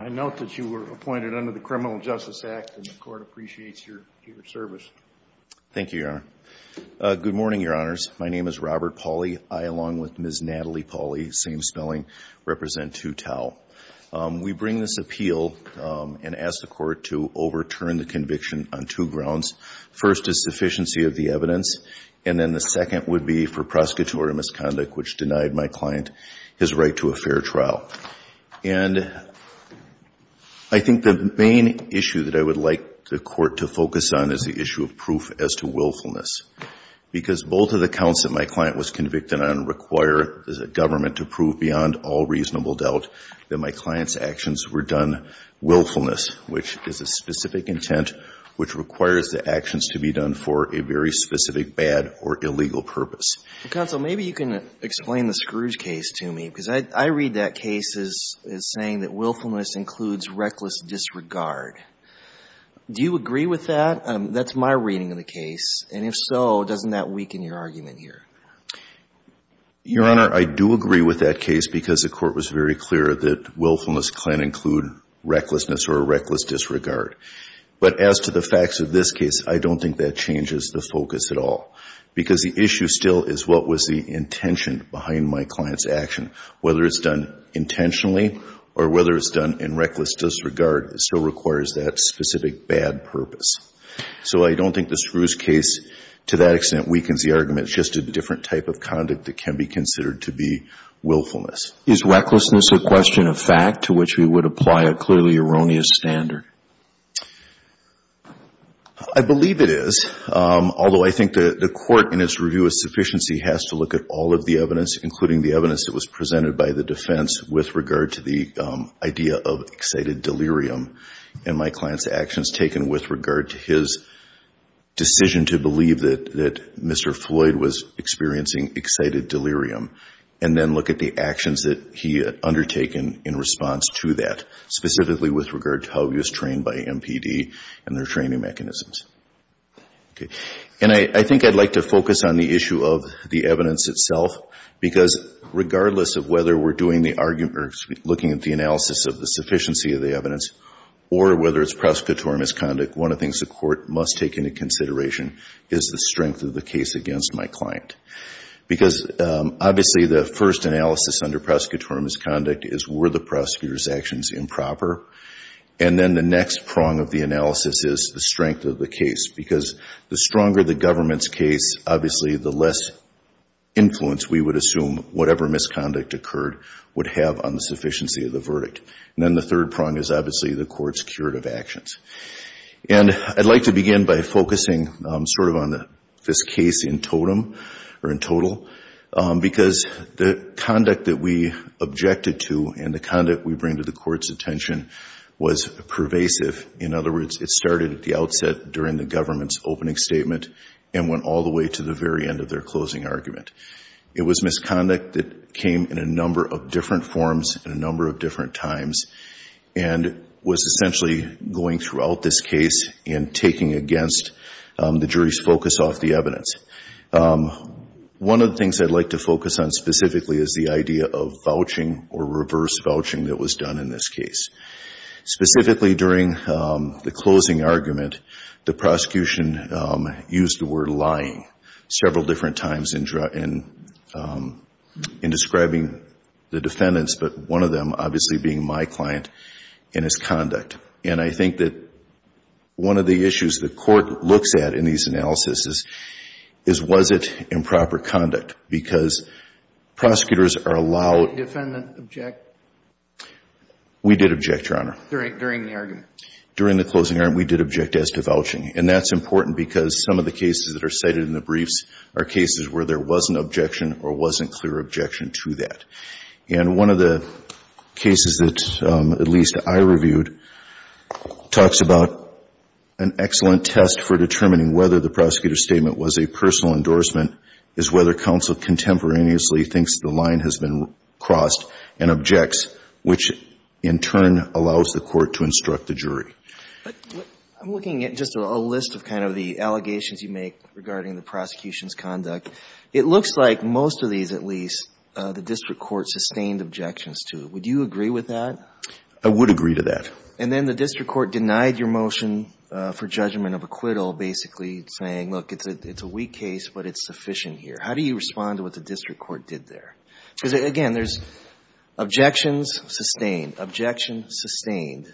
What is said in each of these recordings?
I note that you were appointed under the Criminal Justice Act and the court appreciates your service. Thank you, Your Honor. Good morning, Your Honors. My name is Robert Pauly. I, along with Ms. Natalie Pauly, same spelling, represent Tou Thao. We bring this appeal and ask the court to overturn the conviction on two grounds. First is sufficiency of the evidence and then the second would be for prosecutorial misconduct, which denied my client his right to a fair trial. And I think the main issue that I would like the court to focus on is the issue of proof as to willfulness. Because both of the counts that my client was convicted on require the government to prove beyond all reasonable doubt that my client's actions were done willfulness, which is a specific intent which requires the actions to be done for a very specific bad or illegal purpose. Counsel, maybe you can explain the Scrooge case to me because I read that case as saying that willfulness includes reckless disregard. Do you agree with that? That's my reading of the case. And if so, doesn't that weaken your argument here? Your Honor, I do agree with that case because the court was very clear that willfulness can include recklessness or a reckless disregard. But as to the facts of this case, I don't think that changes the focus at all. Because the issue still is what was the intention behind my client's action. Whether it's done intentionally or whether it's done in reckless disregard, it still requires that specific bad purpose. So I don't think the Scrooge case to that extent weakens the argument. It's just a different type of conduct that can be considered to be willfulness. Is recklessness a question of fact to which we would apply a clearly erroneous standard? I believe it is. Although I think the court in its review of sufficiency has to look at all of the evidence, including the evidence that was presented by the defense with regard to the idea of excited delirium and my client's actions taken with regard to his decision to believe that Mr. Floyd was experiencing excited delirium and then look at the actions that he had undertaken in response to that, specifically with regard to how he was trained by MPD and their training mechanisms. Okay. And I think I'd like to focus on the issue of the evidence itself, because regardless of whether we're doing the argument or looking at the analysis of the sufficiency of the evidence or whether it's prosecutorial misconduct, one of the things the court must take into consideration is the strength of the case against my client. Because obviously the first analysis under prosecutorial misconduct is were the prosecutor's actions improper? And then the next prong of the analysis is the strength of the case, because the stronger the government's case, obviously, the less influence we would assume whatever misconduct occurred would have on the sufficiency of the verdict. And then the third prong is obviously the court's curative actions. And I'd like to begin by focusing sort of on this case in totem or in total, because the conduct that we objected to and the conduct we bring to the court's attention was pervasive. In other words, it started at the outset during the government's opening statement and went all the way to the very end of their closing argument. It was misconduct that came in a number of different forms and a number of different times and was essentially going throughout this case and taking against the jury's focus off the evidence. One of the things I'd like to focus on specifically is the idea of vouching or reverse vouching that was done in this case. Specifically during the closing argument, the prosecution used the word lying several different times in describing the defendants, but one of them obviously being my client and his conduct. And I think that one of the issues the court looks at in these analysis is, was it improper conduct? Because prosecutors are allowed to defend and object. We did object, Your Honor. During the argument. During the closing argument, we did object as to vouching. And that's important because some of the cases that are cited in the briefs are cases where there wasn't objection or wasn't clear objection to that. And one of the cases that at least I reviewed talks about an excellent test for determining whether the prosecutor's statement was a personal endorsement is whether counsel contemporaneously thinks the line has been crossed and objects, which in turn allows the court to instruct the jury. I'm looking at just a list of kind of the allegations you make regarding the prosecution's conduct. It looks like most of these, at least, the district court sustained objections to. Would you agree with that? I would agree to that. And then the district court denied your motion for judgment of acquittal, basically saying, look, it's a weak case, but it's sufficient here. How do you respond to what the district court did there? Because, again, there's objections sustained, objection sustained.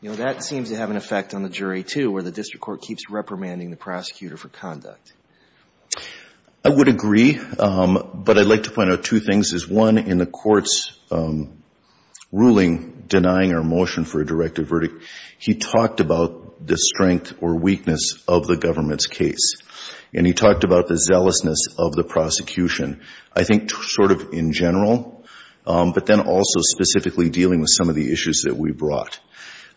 You know, that seems to have an effect on the jury, too, where the district court keeps reprimanding the prosecutor for conduct. I would agree. But I'd like to point out two things. One, in the court's ruling denying our motion for a directive verdict, he talked about the strength or weakness of the government's case, and he talked about the zealousness of the prosecution. I think sort of in general, but then also specifically dealing with some of the issues that we brought.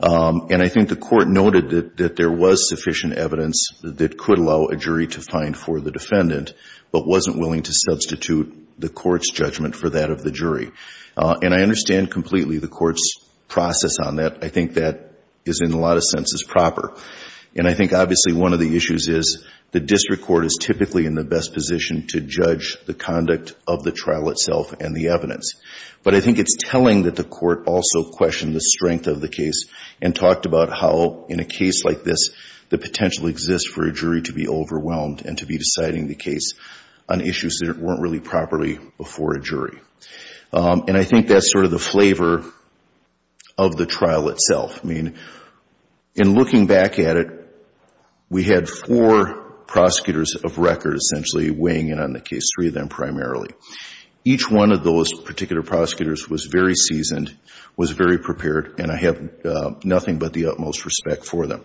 And I think the court noted that there was sufficient evidence that could allow a jury to find for the defendant, but wasn't willing to substitute the court's judgment for that of the jury. And I understand completely the court's process on that. I think that is, in a lot of senses, proper. And I think, obviously, one of the issues is the district court is typically in the best position to judge the conduct of the trial itself and the evidence. But I think it's telling that the court also questioned the strength of the case and talked about how, in a case like this, the potential exists for a jury to be overwhelmed and to be deciding the case on issues that weren't really properly before a jury. And I think that's sort of the flavor of the trial itself. I mean, in looking back at it, we had four prosecutors of record essentially weighing in on the case, three of them primarily. Each one of those particular prosecutors was very seasoned, was very prepared, and I have nothing but the utmost respect for them.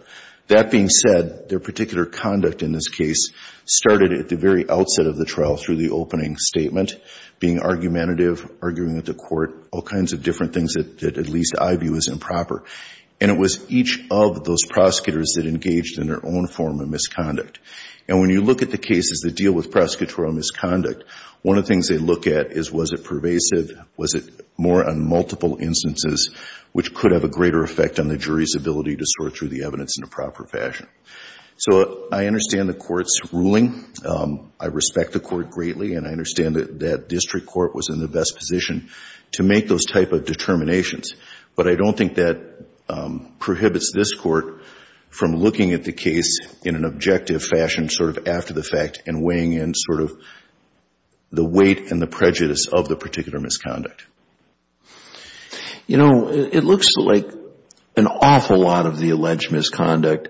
That being said, their particular conduct in this case started at the very outset of the trial through the opening statement, being argumentative, arguing at the court, all kinds of different things that at least I view as improper. And it was each of those prosecutors that engaged in their own form of misconduct. And when you look at the cases that deal with prosecutorial misconduct, one of the things they look at is was it pervasive, was it more on multiple instances, which could have a greater effect on the jury's ability to sort through the evidence in a proper fashion. So I understand the court's ruling. I respect the court greatly, and I understand that that district court was in the best position to make those type of determinations. But I don't think that prohibits this court from looking at the case in an objective fashion, sort of after the fact, and weighing in sort of the weight and the prejudice of the particular misconduct. You know, it looks like an awful lot of the alleged misconduct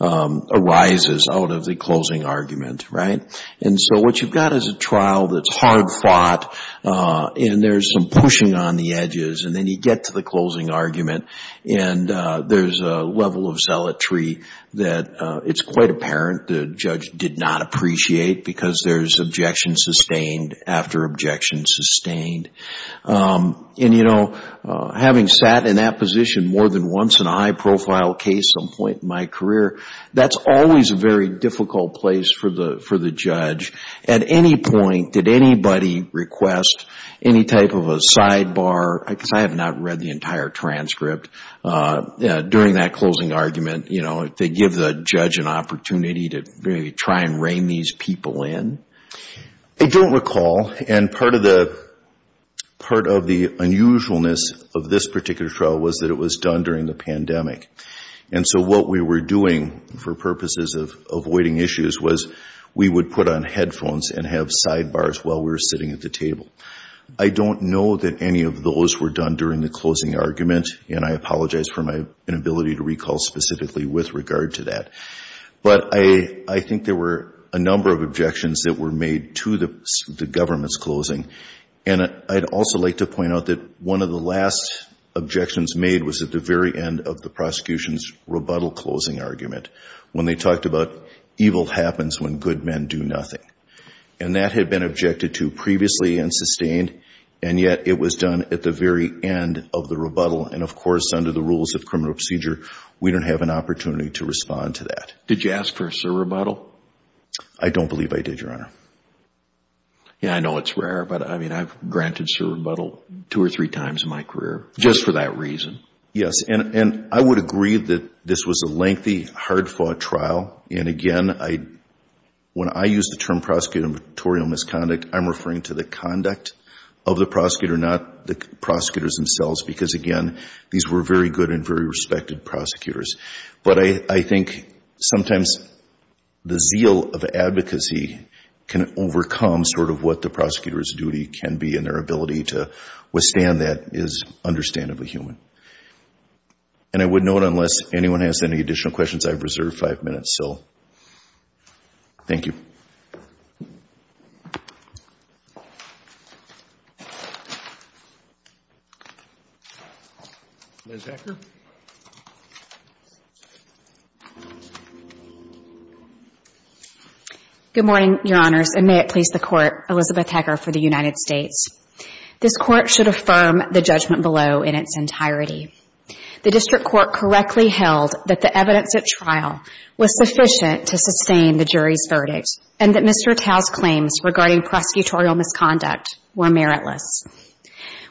arises out of the closing argument, right? And so what you've got is a trial that's hard fought, and there's some pushing on the edges, and then you get to the closing argument, and there's a level of zealotry that it's quite apparent the judge did not appreciate because there's objection sustained after objection sustained. And, you know, having sat in that position more than once in a high-profile case some point in my career, that's always a very difficult place for the judge. At any point, did anybody request any type of a sidebar? Because I have not read the entire transcript. During that closing argument, you know, did they give the judge an opportunity to really try and rein these people in? I don't recall, and part of the unusualness of this particular trial was that it was done during the pandemic. And so what we were doing for purposes of avoiding issues was we would put on headphones and have sidebars while we were sitting at the table. I don't know that any of those were done during the closing argument, and I apologize for my inability to recall specifically with regard to that. But I think there were a number of objections that were made to the government's closing, and I'd also like to point out that one of the last objections made was at the very end of the prosecution's rebuttal closing argument when they talked about evil happens when good men do nothing. And that had been objected to previously and sustained, and yet it was done at the very end of the rebuttal. And, of course, under the rules of criminal procedure, we don't have an opportunity to respond to that. Did you ask for a surrebuttal? I don't believe I did, Your Honor. Yeah, I know it's rare, but I mean, I've granted surrebuttal two or three times in my career just for that reason. Yes, and I would agree that this was a lengthy, hard-fought trial. And, again, when I use the term prosecutorial misconduct, I'm referring to the conduct of the prosecutor, not the prosecutors themselves, because, again, these were very good and very respected prosecutors. But I think sometimes the zeal of advocacy can overcome sort of what the prosecutor's duty can be, and their ability to withstand that is understandably human. And I wouldn't know it unless anyone has any additional questions. I have reserved five minutes, so thank you. Good morning, Your Honors, and may it please the Court, Elizabeth Hacker for the United States. This Court should affirm the judgment below in its entirety. The District Court correctly held that the evidence at trial was sufficient to sustain the jury's verdict and that Mr. Tao's claims regarding prosecutorial misconduct were meritless.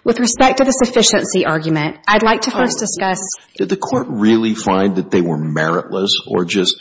With respect to the sufficiency argument, I'd like to first discuss Did the Court really find that they were meritless or just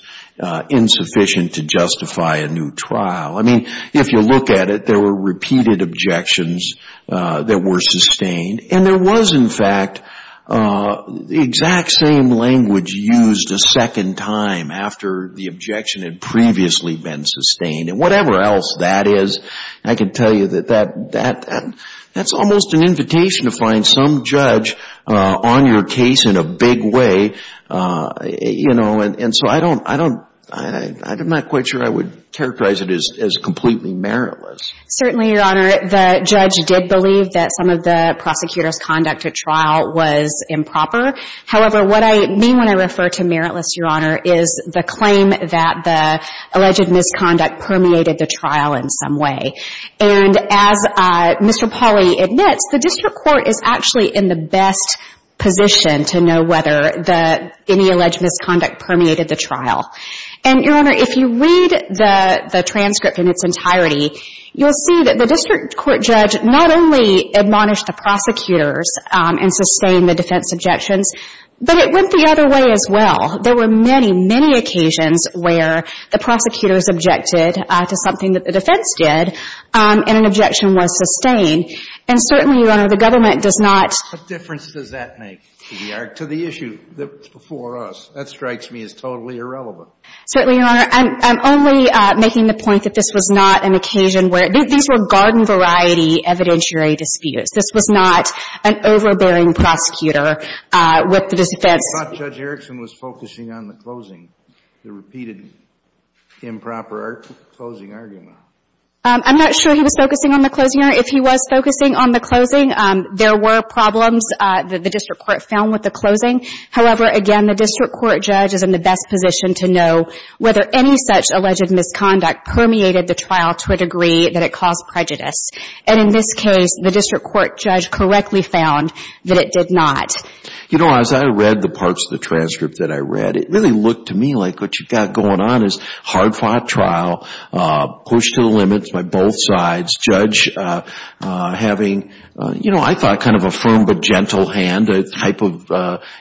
insufficient to justify a new trial? I mean, if you look at it, there were repeated objections that were sustained, and there was, in fact, the exact same language used a second time after the objection had previously been sustained. And whatever else that is, I can tell you that that's almost an invitation to find some judge on your case in a big way. You know, and so I don't, I don't, I'm not quite sure I would characterize it as completely meritless. Certainly, Your Honor, the judge did believe that some of the prosecutor's conduct at trial was improper. However, what I mean when I refer to meritless, Your Honor, is the claim that the alleged misconduct permeated the trial in some way. And as Mr. Pauly admits, the District Court is actually in the best position to know whether any alleged misconduct permeated the trial. And, Your Honor, if you read the transcript in its entirety, you'll see that the District Court judge not only admonished the prosecutors and sustained the defense objections, but it went the other way as well. There were many, many occasions where the prosecutors objected to something that the defense did and an objection was sustained. And certainly, Your Honor, the government does not — What difference does that make to the issue before us? That strikes me as totally irrelevant. Certainly, Your Honor. I'm only making the point that this was not an occasion where — these were garden-variety evidentiary disputes. This was not an overbearing prosecutor with the defense — I thought Judge Erickson was focusing on the closing, the repeated improper closing argument. I'm not sure he was focusing on the closing argument. If he was focusing on the closing, there were problems that the District Court found with the closing. However, again, the District Court judge is in the best position to know whether any such alleged misconduct permeated the trial to a degree that it caused prejudice. And in this case, the District Court judge correctly found that it did not. You know, as I read the parts of the transcript that I read, it really looked to me like what you've got going on is hard-fought trial, push to the limits by both sides, judge having, you know, I thought kind of a firm but gentle hand, a type of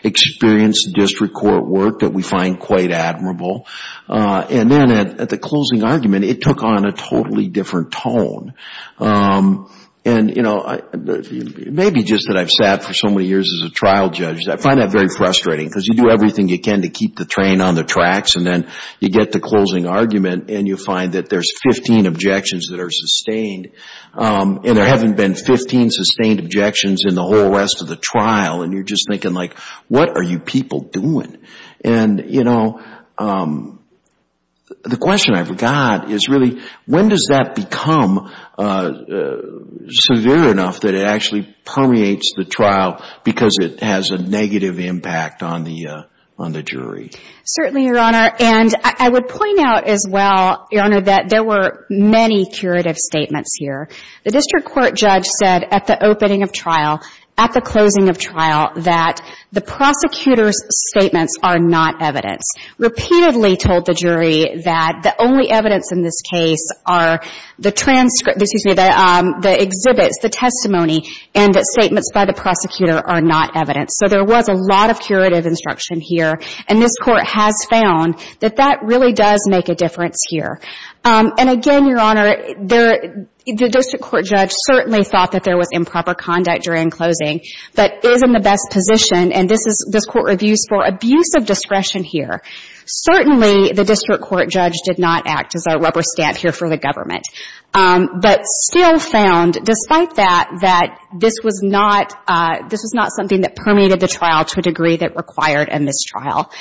experienced District Court work that we find quite admirable. And then at the closing argument, it took on a totally different tone. And, you know, maybe just that I've sat for so many years as a trial judge, I find that very frustrating because you do everything you can to keep the train on the tracks and then you get to closing argument and you find that there's 15 objections that are sustained and there haven't been 15 sustained objections in the whole rest of the trial and you're just thinking like, what are you people doing? And, you know, the question I've got is really when does that become severe enough that it actually permeates the trial because it has a negative impact on the jury? Certainly, Your Honor. And I would point out as well, Your Honor, that there were many curative statements here. The District Court judge said at the opening of trial, at the closing of trial, that the prosecutor's statements are not evidence. Repeatedly told the jury that the only evidence in this case are the transcripts, excuse me, the exhibits, the testimony, and that statements by the prosecutor are not evidence. So there was a lot of curative instruction here. And this Court has found that that really does make a difference here. And, again, Your Honor, the District Court judge certainly thought that there was improper conduct during closing, but is in the best position, and this Court reviews for abuse of discretion here. Certainly, the District Court judge did not act as a rubber stamp here for the government. But still found, despite that, that this was not something that permeated the trial to a degree that required a mistrial.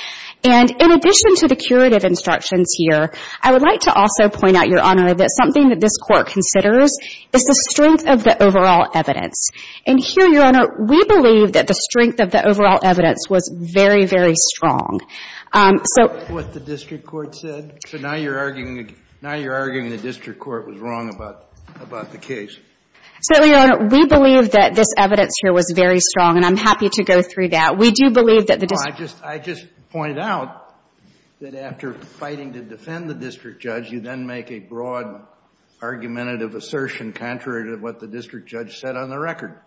And in addition to the curative instructions here, I would like to also point out, Your Honor, that something that this Court considers is the strength of the overall evidence. And here, Your Honor, we believe that the strength of the overall evidence was very, very strong. So — That's what the District Court said? So now you're arguing the District Court was wrong about the case? Certainly, Your Honor. We believe that this evidence here was very strong, and I'm happy to go through that. We do believe that the — Well, I just point out that after fighting to defend the District Judge, you then make a broad argumentative assertion contrary to what the District Judge said on the record.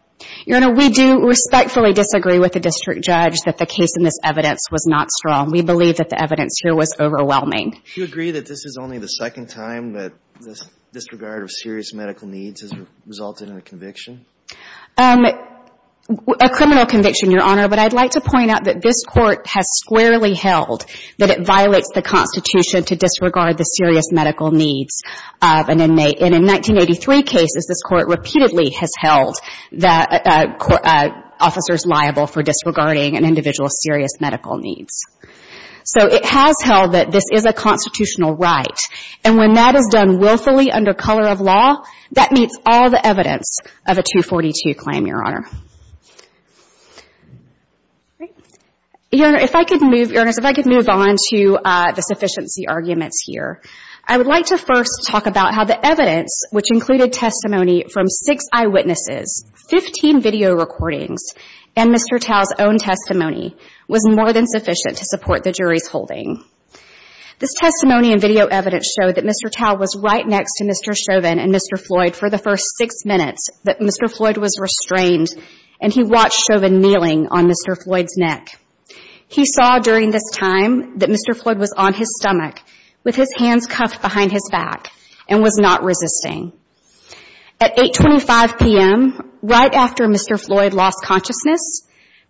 Your Honor, we do respectfully disagree with the District Judge that the case in this evidence was not strong. We believe that the evidence here was overwhelming. Do you agree that this is only the second time that disregard of serious medical needs has resulted in a conviction? A criminal conviction, Your Honor, but I'd like to point out that this Court has squarely held that it violates the Constitution to disregard the serious medical needs of an inmate. And in 1983 cases, this Court repeatedly has held the officers liable for disregarding an individual's serious medical needs. So it has held that this is a constitutional right, and when that is done willfully under color of law, that meets all the evidence of a 242 claim, Your Honor. Your Honor, if I could move — Your Honors, if I could move on to the sufficiency arguments here. I would like to first talk about how the evidence, which included testimony from six eyewitnesses, 15 video recordings, and Mr. Tao's own testimony, was more than sufficient to support the jury's holding. This testimony and video evidence showed that Mr. Tao was right next to Mr. Chauvin and Mr. Floyd for the first six minutes that Mr. Floyd was restrained, and he watched Chauvin kneeling on Mr. Floyd's neck. He saw during this time that Mr. Floyd was on his stomach, with his hands cuffed behind his back, and was not resisting. At 8.25 p.m., right after Mr. Floyd lost consciousness,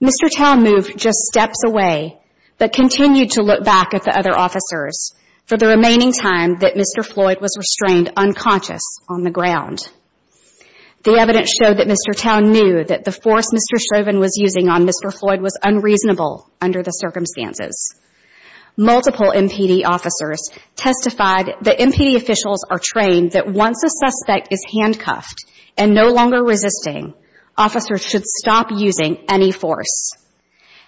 Mr. Tao moved just steps away, but continued to look back at the other officers for the remaining time that Mr. Floyd was on the ground. The evidence showed that Mr. Tao knew that the force Mr. Chauvin was using on Mr. Floyd was unreasonable under the circumstances. Multiple MPD officers testified that MPD officials are trained that once a suspect is handcuffed and no longer resisting, officers should stop using any force.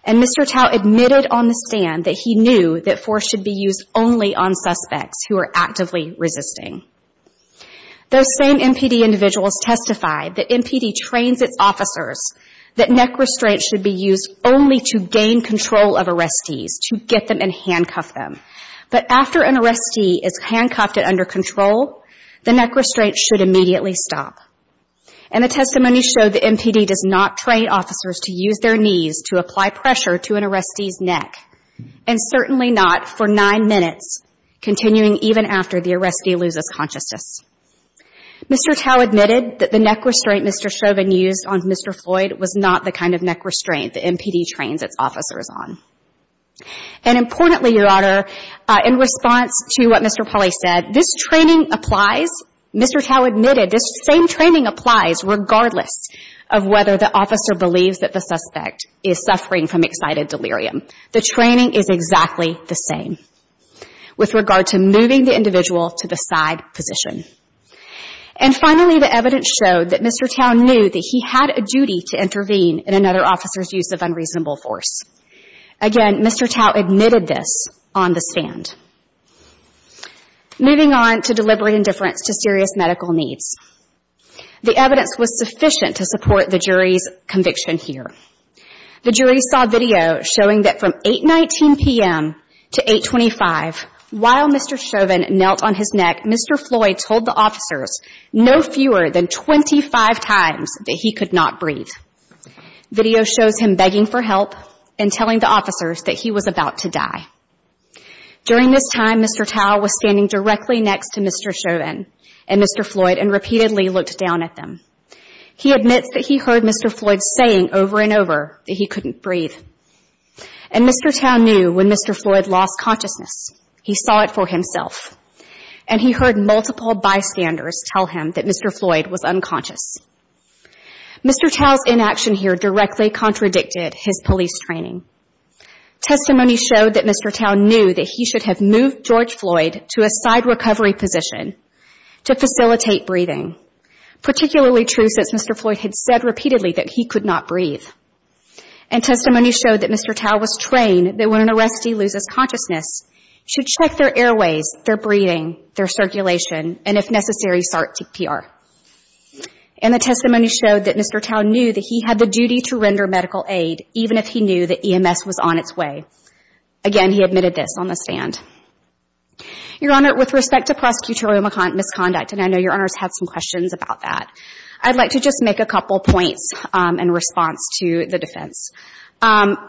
And Mr. Tao admitted on the stand that he knew that force should be used only on suspects who are actively resisting. Those same MPD individuals testified that MPD trains its officers that neck restraints should be used only to gain control of arrestees, to get them and handcuff them. But after an arrestee is handcuffed and under control, the neck restraints should immediately stop. And the testimony showed that MPD does not train officers to use their knees to apply pressure to an arrestee's neck, and certainly not for nine minutes, continuing even after the arrestee loses consciousness. Mr. Tao admitted that the neck restraint Mr. Chauvin used on Mr. Floyd was not the kind of neck restraint the MPD trains its officers on. And importantly, Your Honor, in response to what Mr. Pauly said, this training applies. Mr. Tao admitted this same training applies regardless of whether the officer believes that the training is exactly the same. With regard to moving the individual to the side position. And finally, the evidence showed that Mr. Tao knew that he had a duty to intervene in another officer's use of unreasonable force. Again, Mr. Tao admitted this on the stand. Moving on to delivery indifference to serious medical needs. The evidence was sufficient to support the jury's conviction here. The jury saw video showing that from 8.19 p.m. to 8.25, while Mr. Chauvin knelt on his neck, Mr. Floyd told the officers no fewer than 25 times that he could not breathe. Video shows him begging for help and telling the officers that he was about to die. During this time, Mr. Tao was standing directly next to Mr. Chauvin and Mr. Floyd and repeatedly looked down at them. He admits that he heard Mr. Floyd saying over and over that he couldn't breathe. And Mr. Tao knew when Mr. Floyd lost consciousness, he saw it for himself. And he heard multiple bystanders tell him that Mr. Floyd was unconscious. Mr. Tao's inaction here directly contradicted his police training. Testimony showed that Mr. Tao knew that he should have moved George Floyd to a side recovery position to facilitate breathing, particularly true since Mr. Floyd had said repeatedly that he could not breathe. And testimony showed that Mr. Tao was trained that when an arrestee loses consciousness, should check their airways, their breathing, their circulation, and if necessary, SART-TPR. And the testimony showed that Mr. Tao knew that he had the duty to render medical aid, even if he knew that EMS was on its way. Again, he admitted this on the stand. Your Honor, with respect to prosecutorial misconduct, and I know Your Honor has had some questions about that, I'd like to just make a couple points in response to the defense.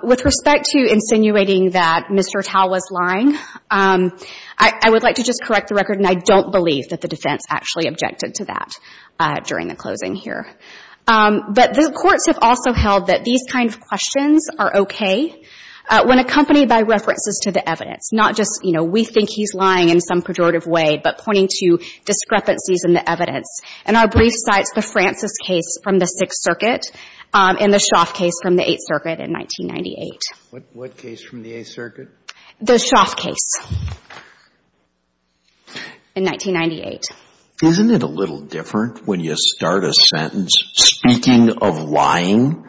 With respect to insinuating that Mr. Tao was lying, I would like to just correct the record, and I don't believe that the defense actually objected to that during the closing here. But the courts have also held that these kind of questions are okay when accompanied by references to the evidence. Not just, you know, we think he's lying in some pejorative way, but pointing to discrepancies in the evidence. And our brief cites the Francis case from the Sixth Circuit and the Schaaf case from the Eighth Circuit in 1998. What case from the Eighth Circuit? The Schaaf case in 1998. Isn't it a little different when you start a sentence speaking of lying?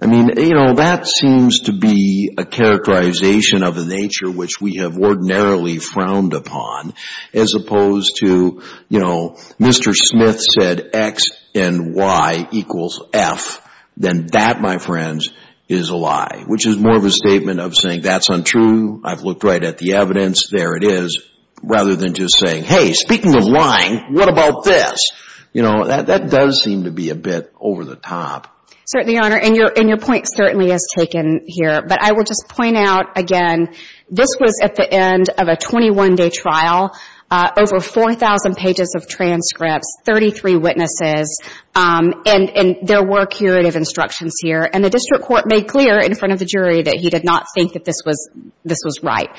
I mean, you know, that seems to be a characterization of a nature which we have ordinarily frowned upon as opposed to, you know, Mr. Smith said X and Y equals F. Then that, my friends, is a lie. Which is more of a statement of saying that's untrue, I've looked right at the evidence, there it is, rather than just saying, hey, speaking of lying, what about this? You know, that does seem to be a bit over the top. Certainly, Your Honor. And your point certainly is taken here. But I will just point out again, this was at the end of a 21-day trial, over 4,000 pages of transcripts, 33 witnesses, and there were curative instructions here. And the district court made clear in front of the jury that he did not think that this was right,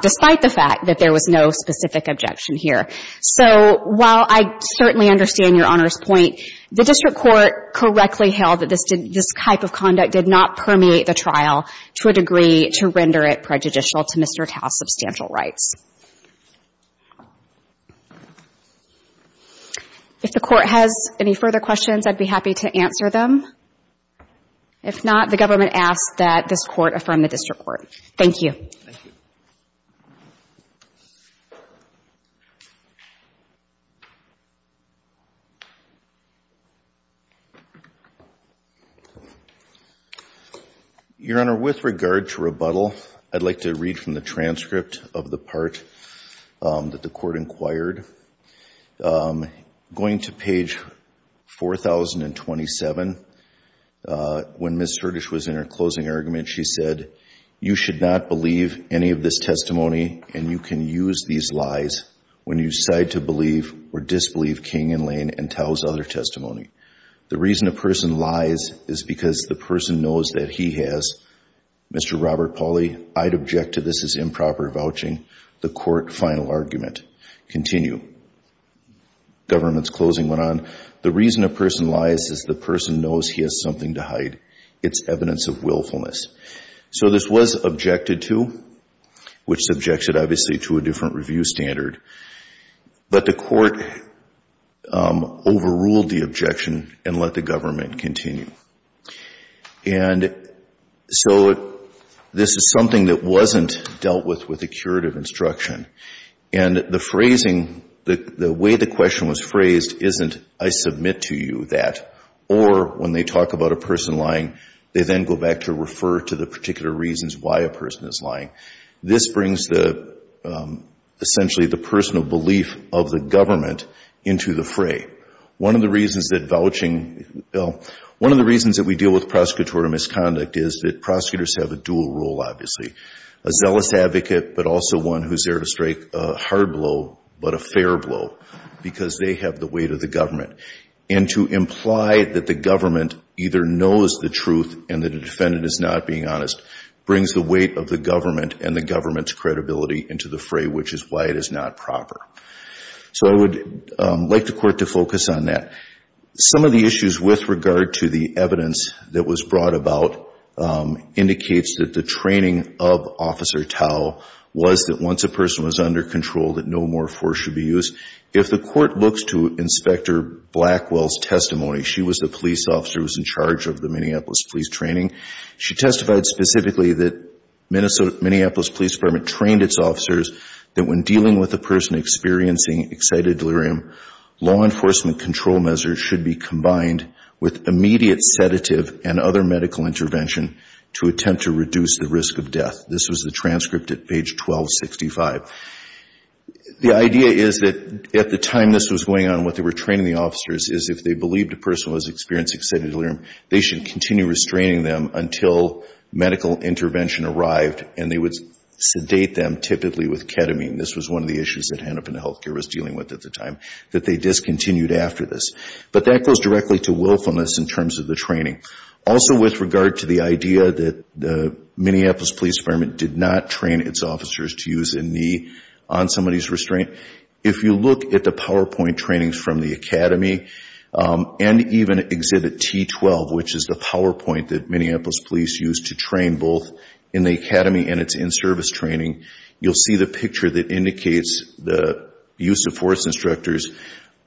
despite the fact that there was no specific objection here. So while I certainly understand Your Honor's point, the district court correctly held that this type of conduct did not permeate the trial to a degree to render it prejudicial to Mr. Tao's substantial rights. If the court has any further questions, I'd be happy to answer them. If not, the government asks that this court affirm the district court. Thank you. Thank you. Your Honor, with regard to rebuttal, I'd like to read from the transcript of the part that the court inquired. Going to page 4,027, when Ms. Sertich was in her closing argument, she said, You should not believe any of this testimony, and you can use these lies when you decide to believe or disbelieve King and Lane and Tao's other testimony. The reason a person lies is because the person knows that he has. Mr. Robert Pauly, I'd object to this as improper vouching. The court final argument. Continue. Government's closing went on. The reason a person lies is the person knows he has something to hide. It's evidence of willfulness. So this was objected to, which subjects it, obviously, to a different review standard. But the court overruled the objection and let the government continue. And so this is something that wasn't dealt with with a curative instruction. And the phrasing, the way the question was phrased isn't, I submit to you that, or when they talk about a person lying, they then go back to refer to the particular reasons why a person is lying. This brings essentially the personal belief of the government into the fray. One of the reasons that we deal with prosecutorial misconduct is that prosecutors have a dual role, obviously, a zealous advocate, but also one who's there to strike a hard blow, but a fair blow, because they have the weight of the government. And to imply that the government either knows the truth and that a defendant is not being honest brings the weight of the government and the government's credibility into the fray, which is why it is not proper. So I would like the court to focus on that. Some of the issues with regard to the evidence that was brought about indicates that the training of Officer Tao was that once a person was under control that no more force should be used. If the court looks to Inspector Blackwell's testimony, she was the police officer who was in charge of the Minneapolis Police Training. She testified specifically that Minneapolis Police Department trained its officers that when dealing with a person experiencing excited delirium, law enforcement control measures should be combined with immediate sedative and other medical intervention to attempt to reduce the risk of death. This was the transcript at page 1265. The idea is that at the time this was going on, what they were training the officers is if they believed a person was experiencing excited delirium, they should continue restraining them until medical intervention arrived and they would sedate them typically with ketamine. This was one of the issues that Hennepin Health Care was dealing with at the time, that they discontinued after this. But that goes directly to willfulness in terms of the training. Also with regard to the idea that the Minneapolis Police Department did not train its officers to use a knee on somebody's restraint, if you look at the PowerPoint trainings from the academy and even exhibit T12, which is the PowerPoint that Minneapolis Police used to train both in the academy and its in-service training, you'll see the picture that indicates the use of force instructors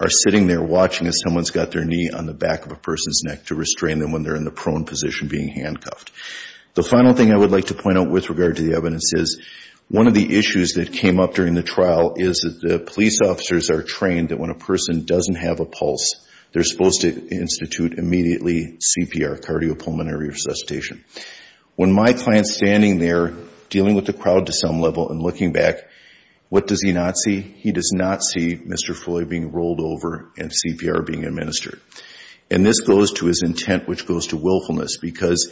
are sitting there watching as someone's got their knee on the back of a person's neck to restrain them when they're in the prone position being handcuffed. The final thing I would like to point out with regard to the evidence is one of the issues that came up during the trial is that the police officers are trained that when a person doesn't have a pulse, they're supposed to institute immediately CPR, cardiopulmonary resuscitation. When my client's standing there dealing with the crowd to some level and looking back, what does he not see? He does not see Mr. Foy being rolled over and CPR being administered. And this goes to his intent, which goes to willfulness, because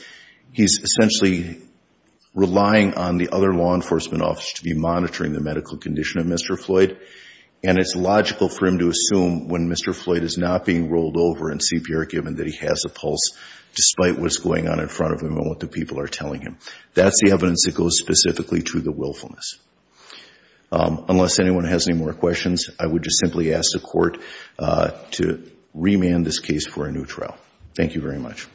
he's essentially relying on the other law enforcement officers to be monitoring the medical condition of Mr. Floyd, and it's logical for him to assume when Mr. Floyd is not being rolled over and CPR, given that he has a pulse, despite what's going on in front of him and what the people are telling him. That's the evidence that goes specifically to the willfulness. Unless anyone has any more questions, I would just simply ask the Court to remand this case for a new trial. Thank you very much.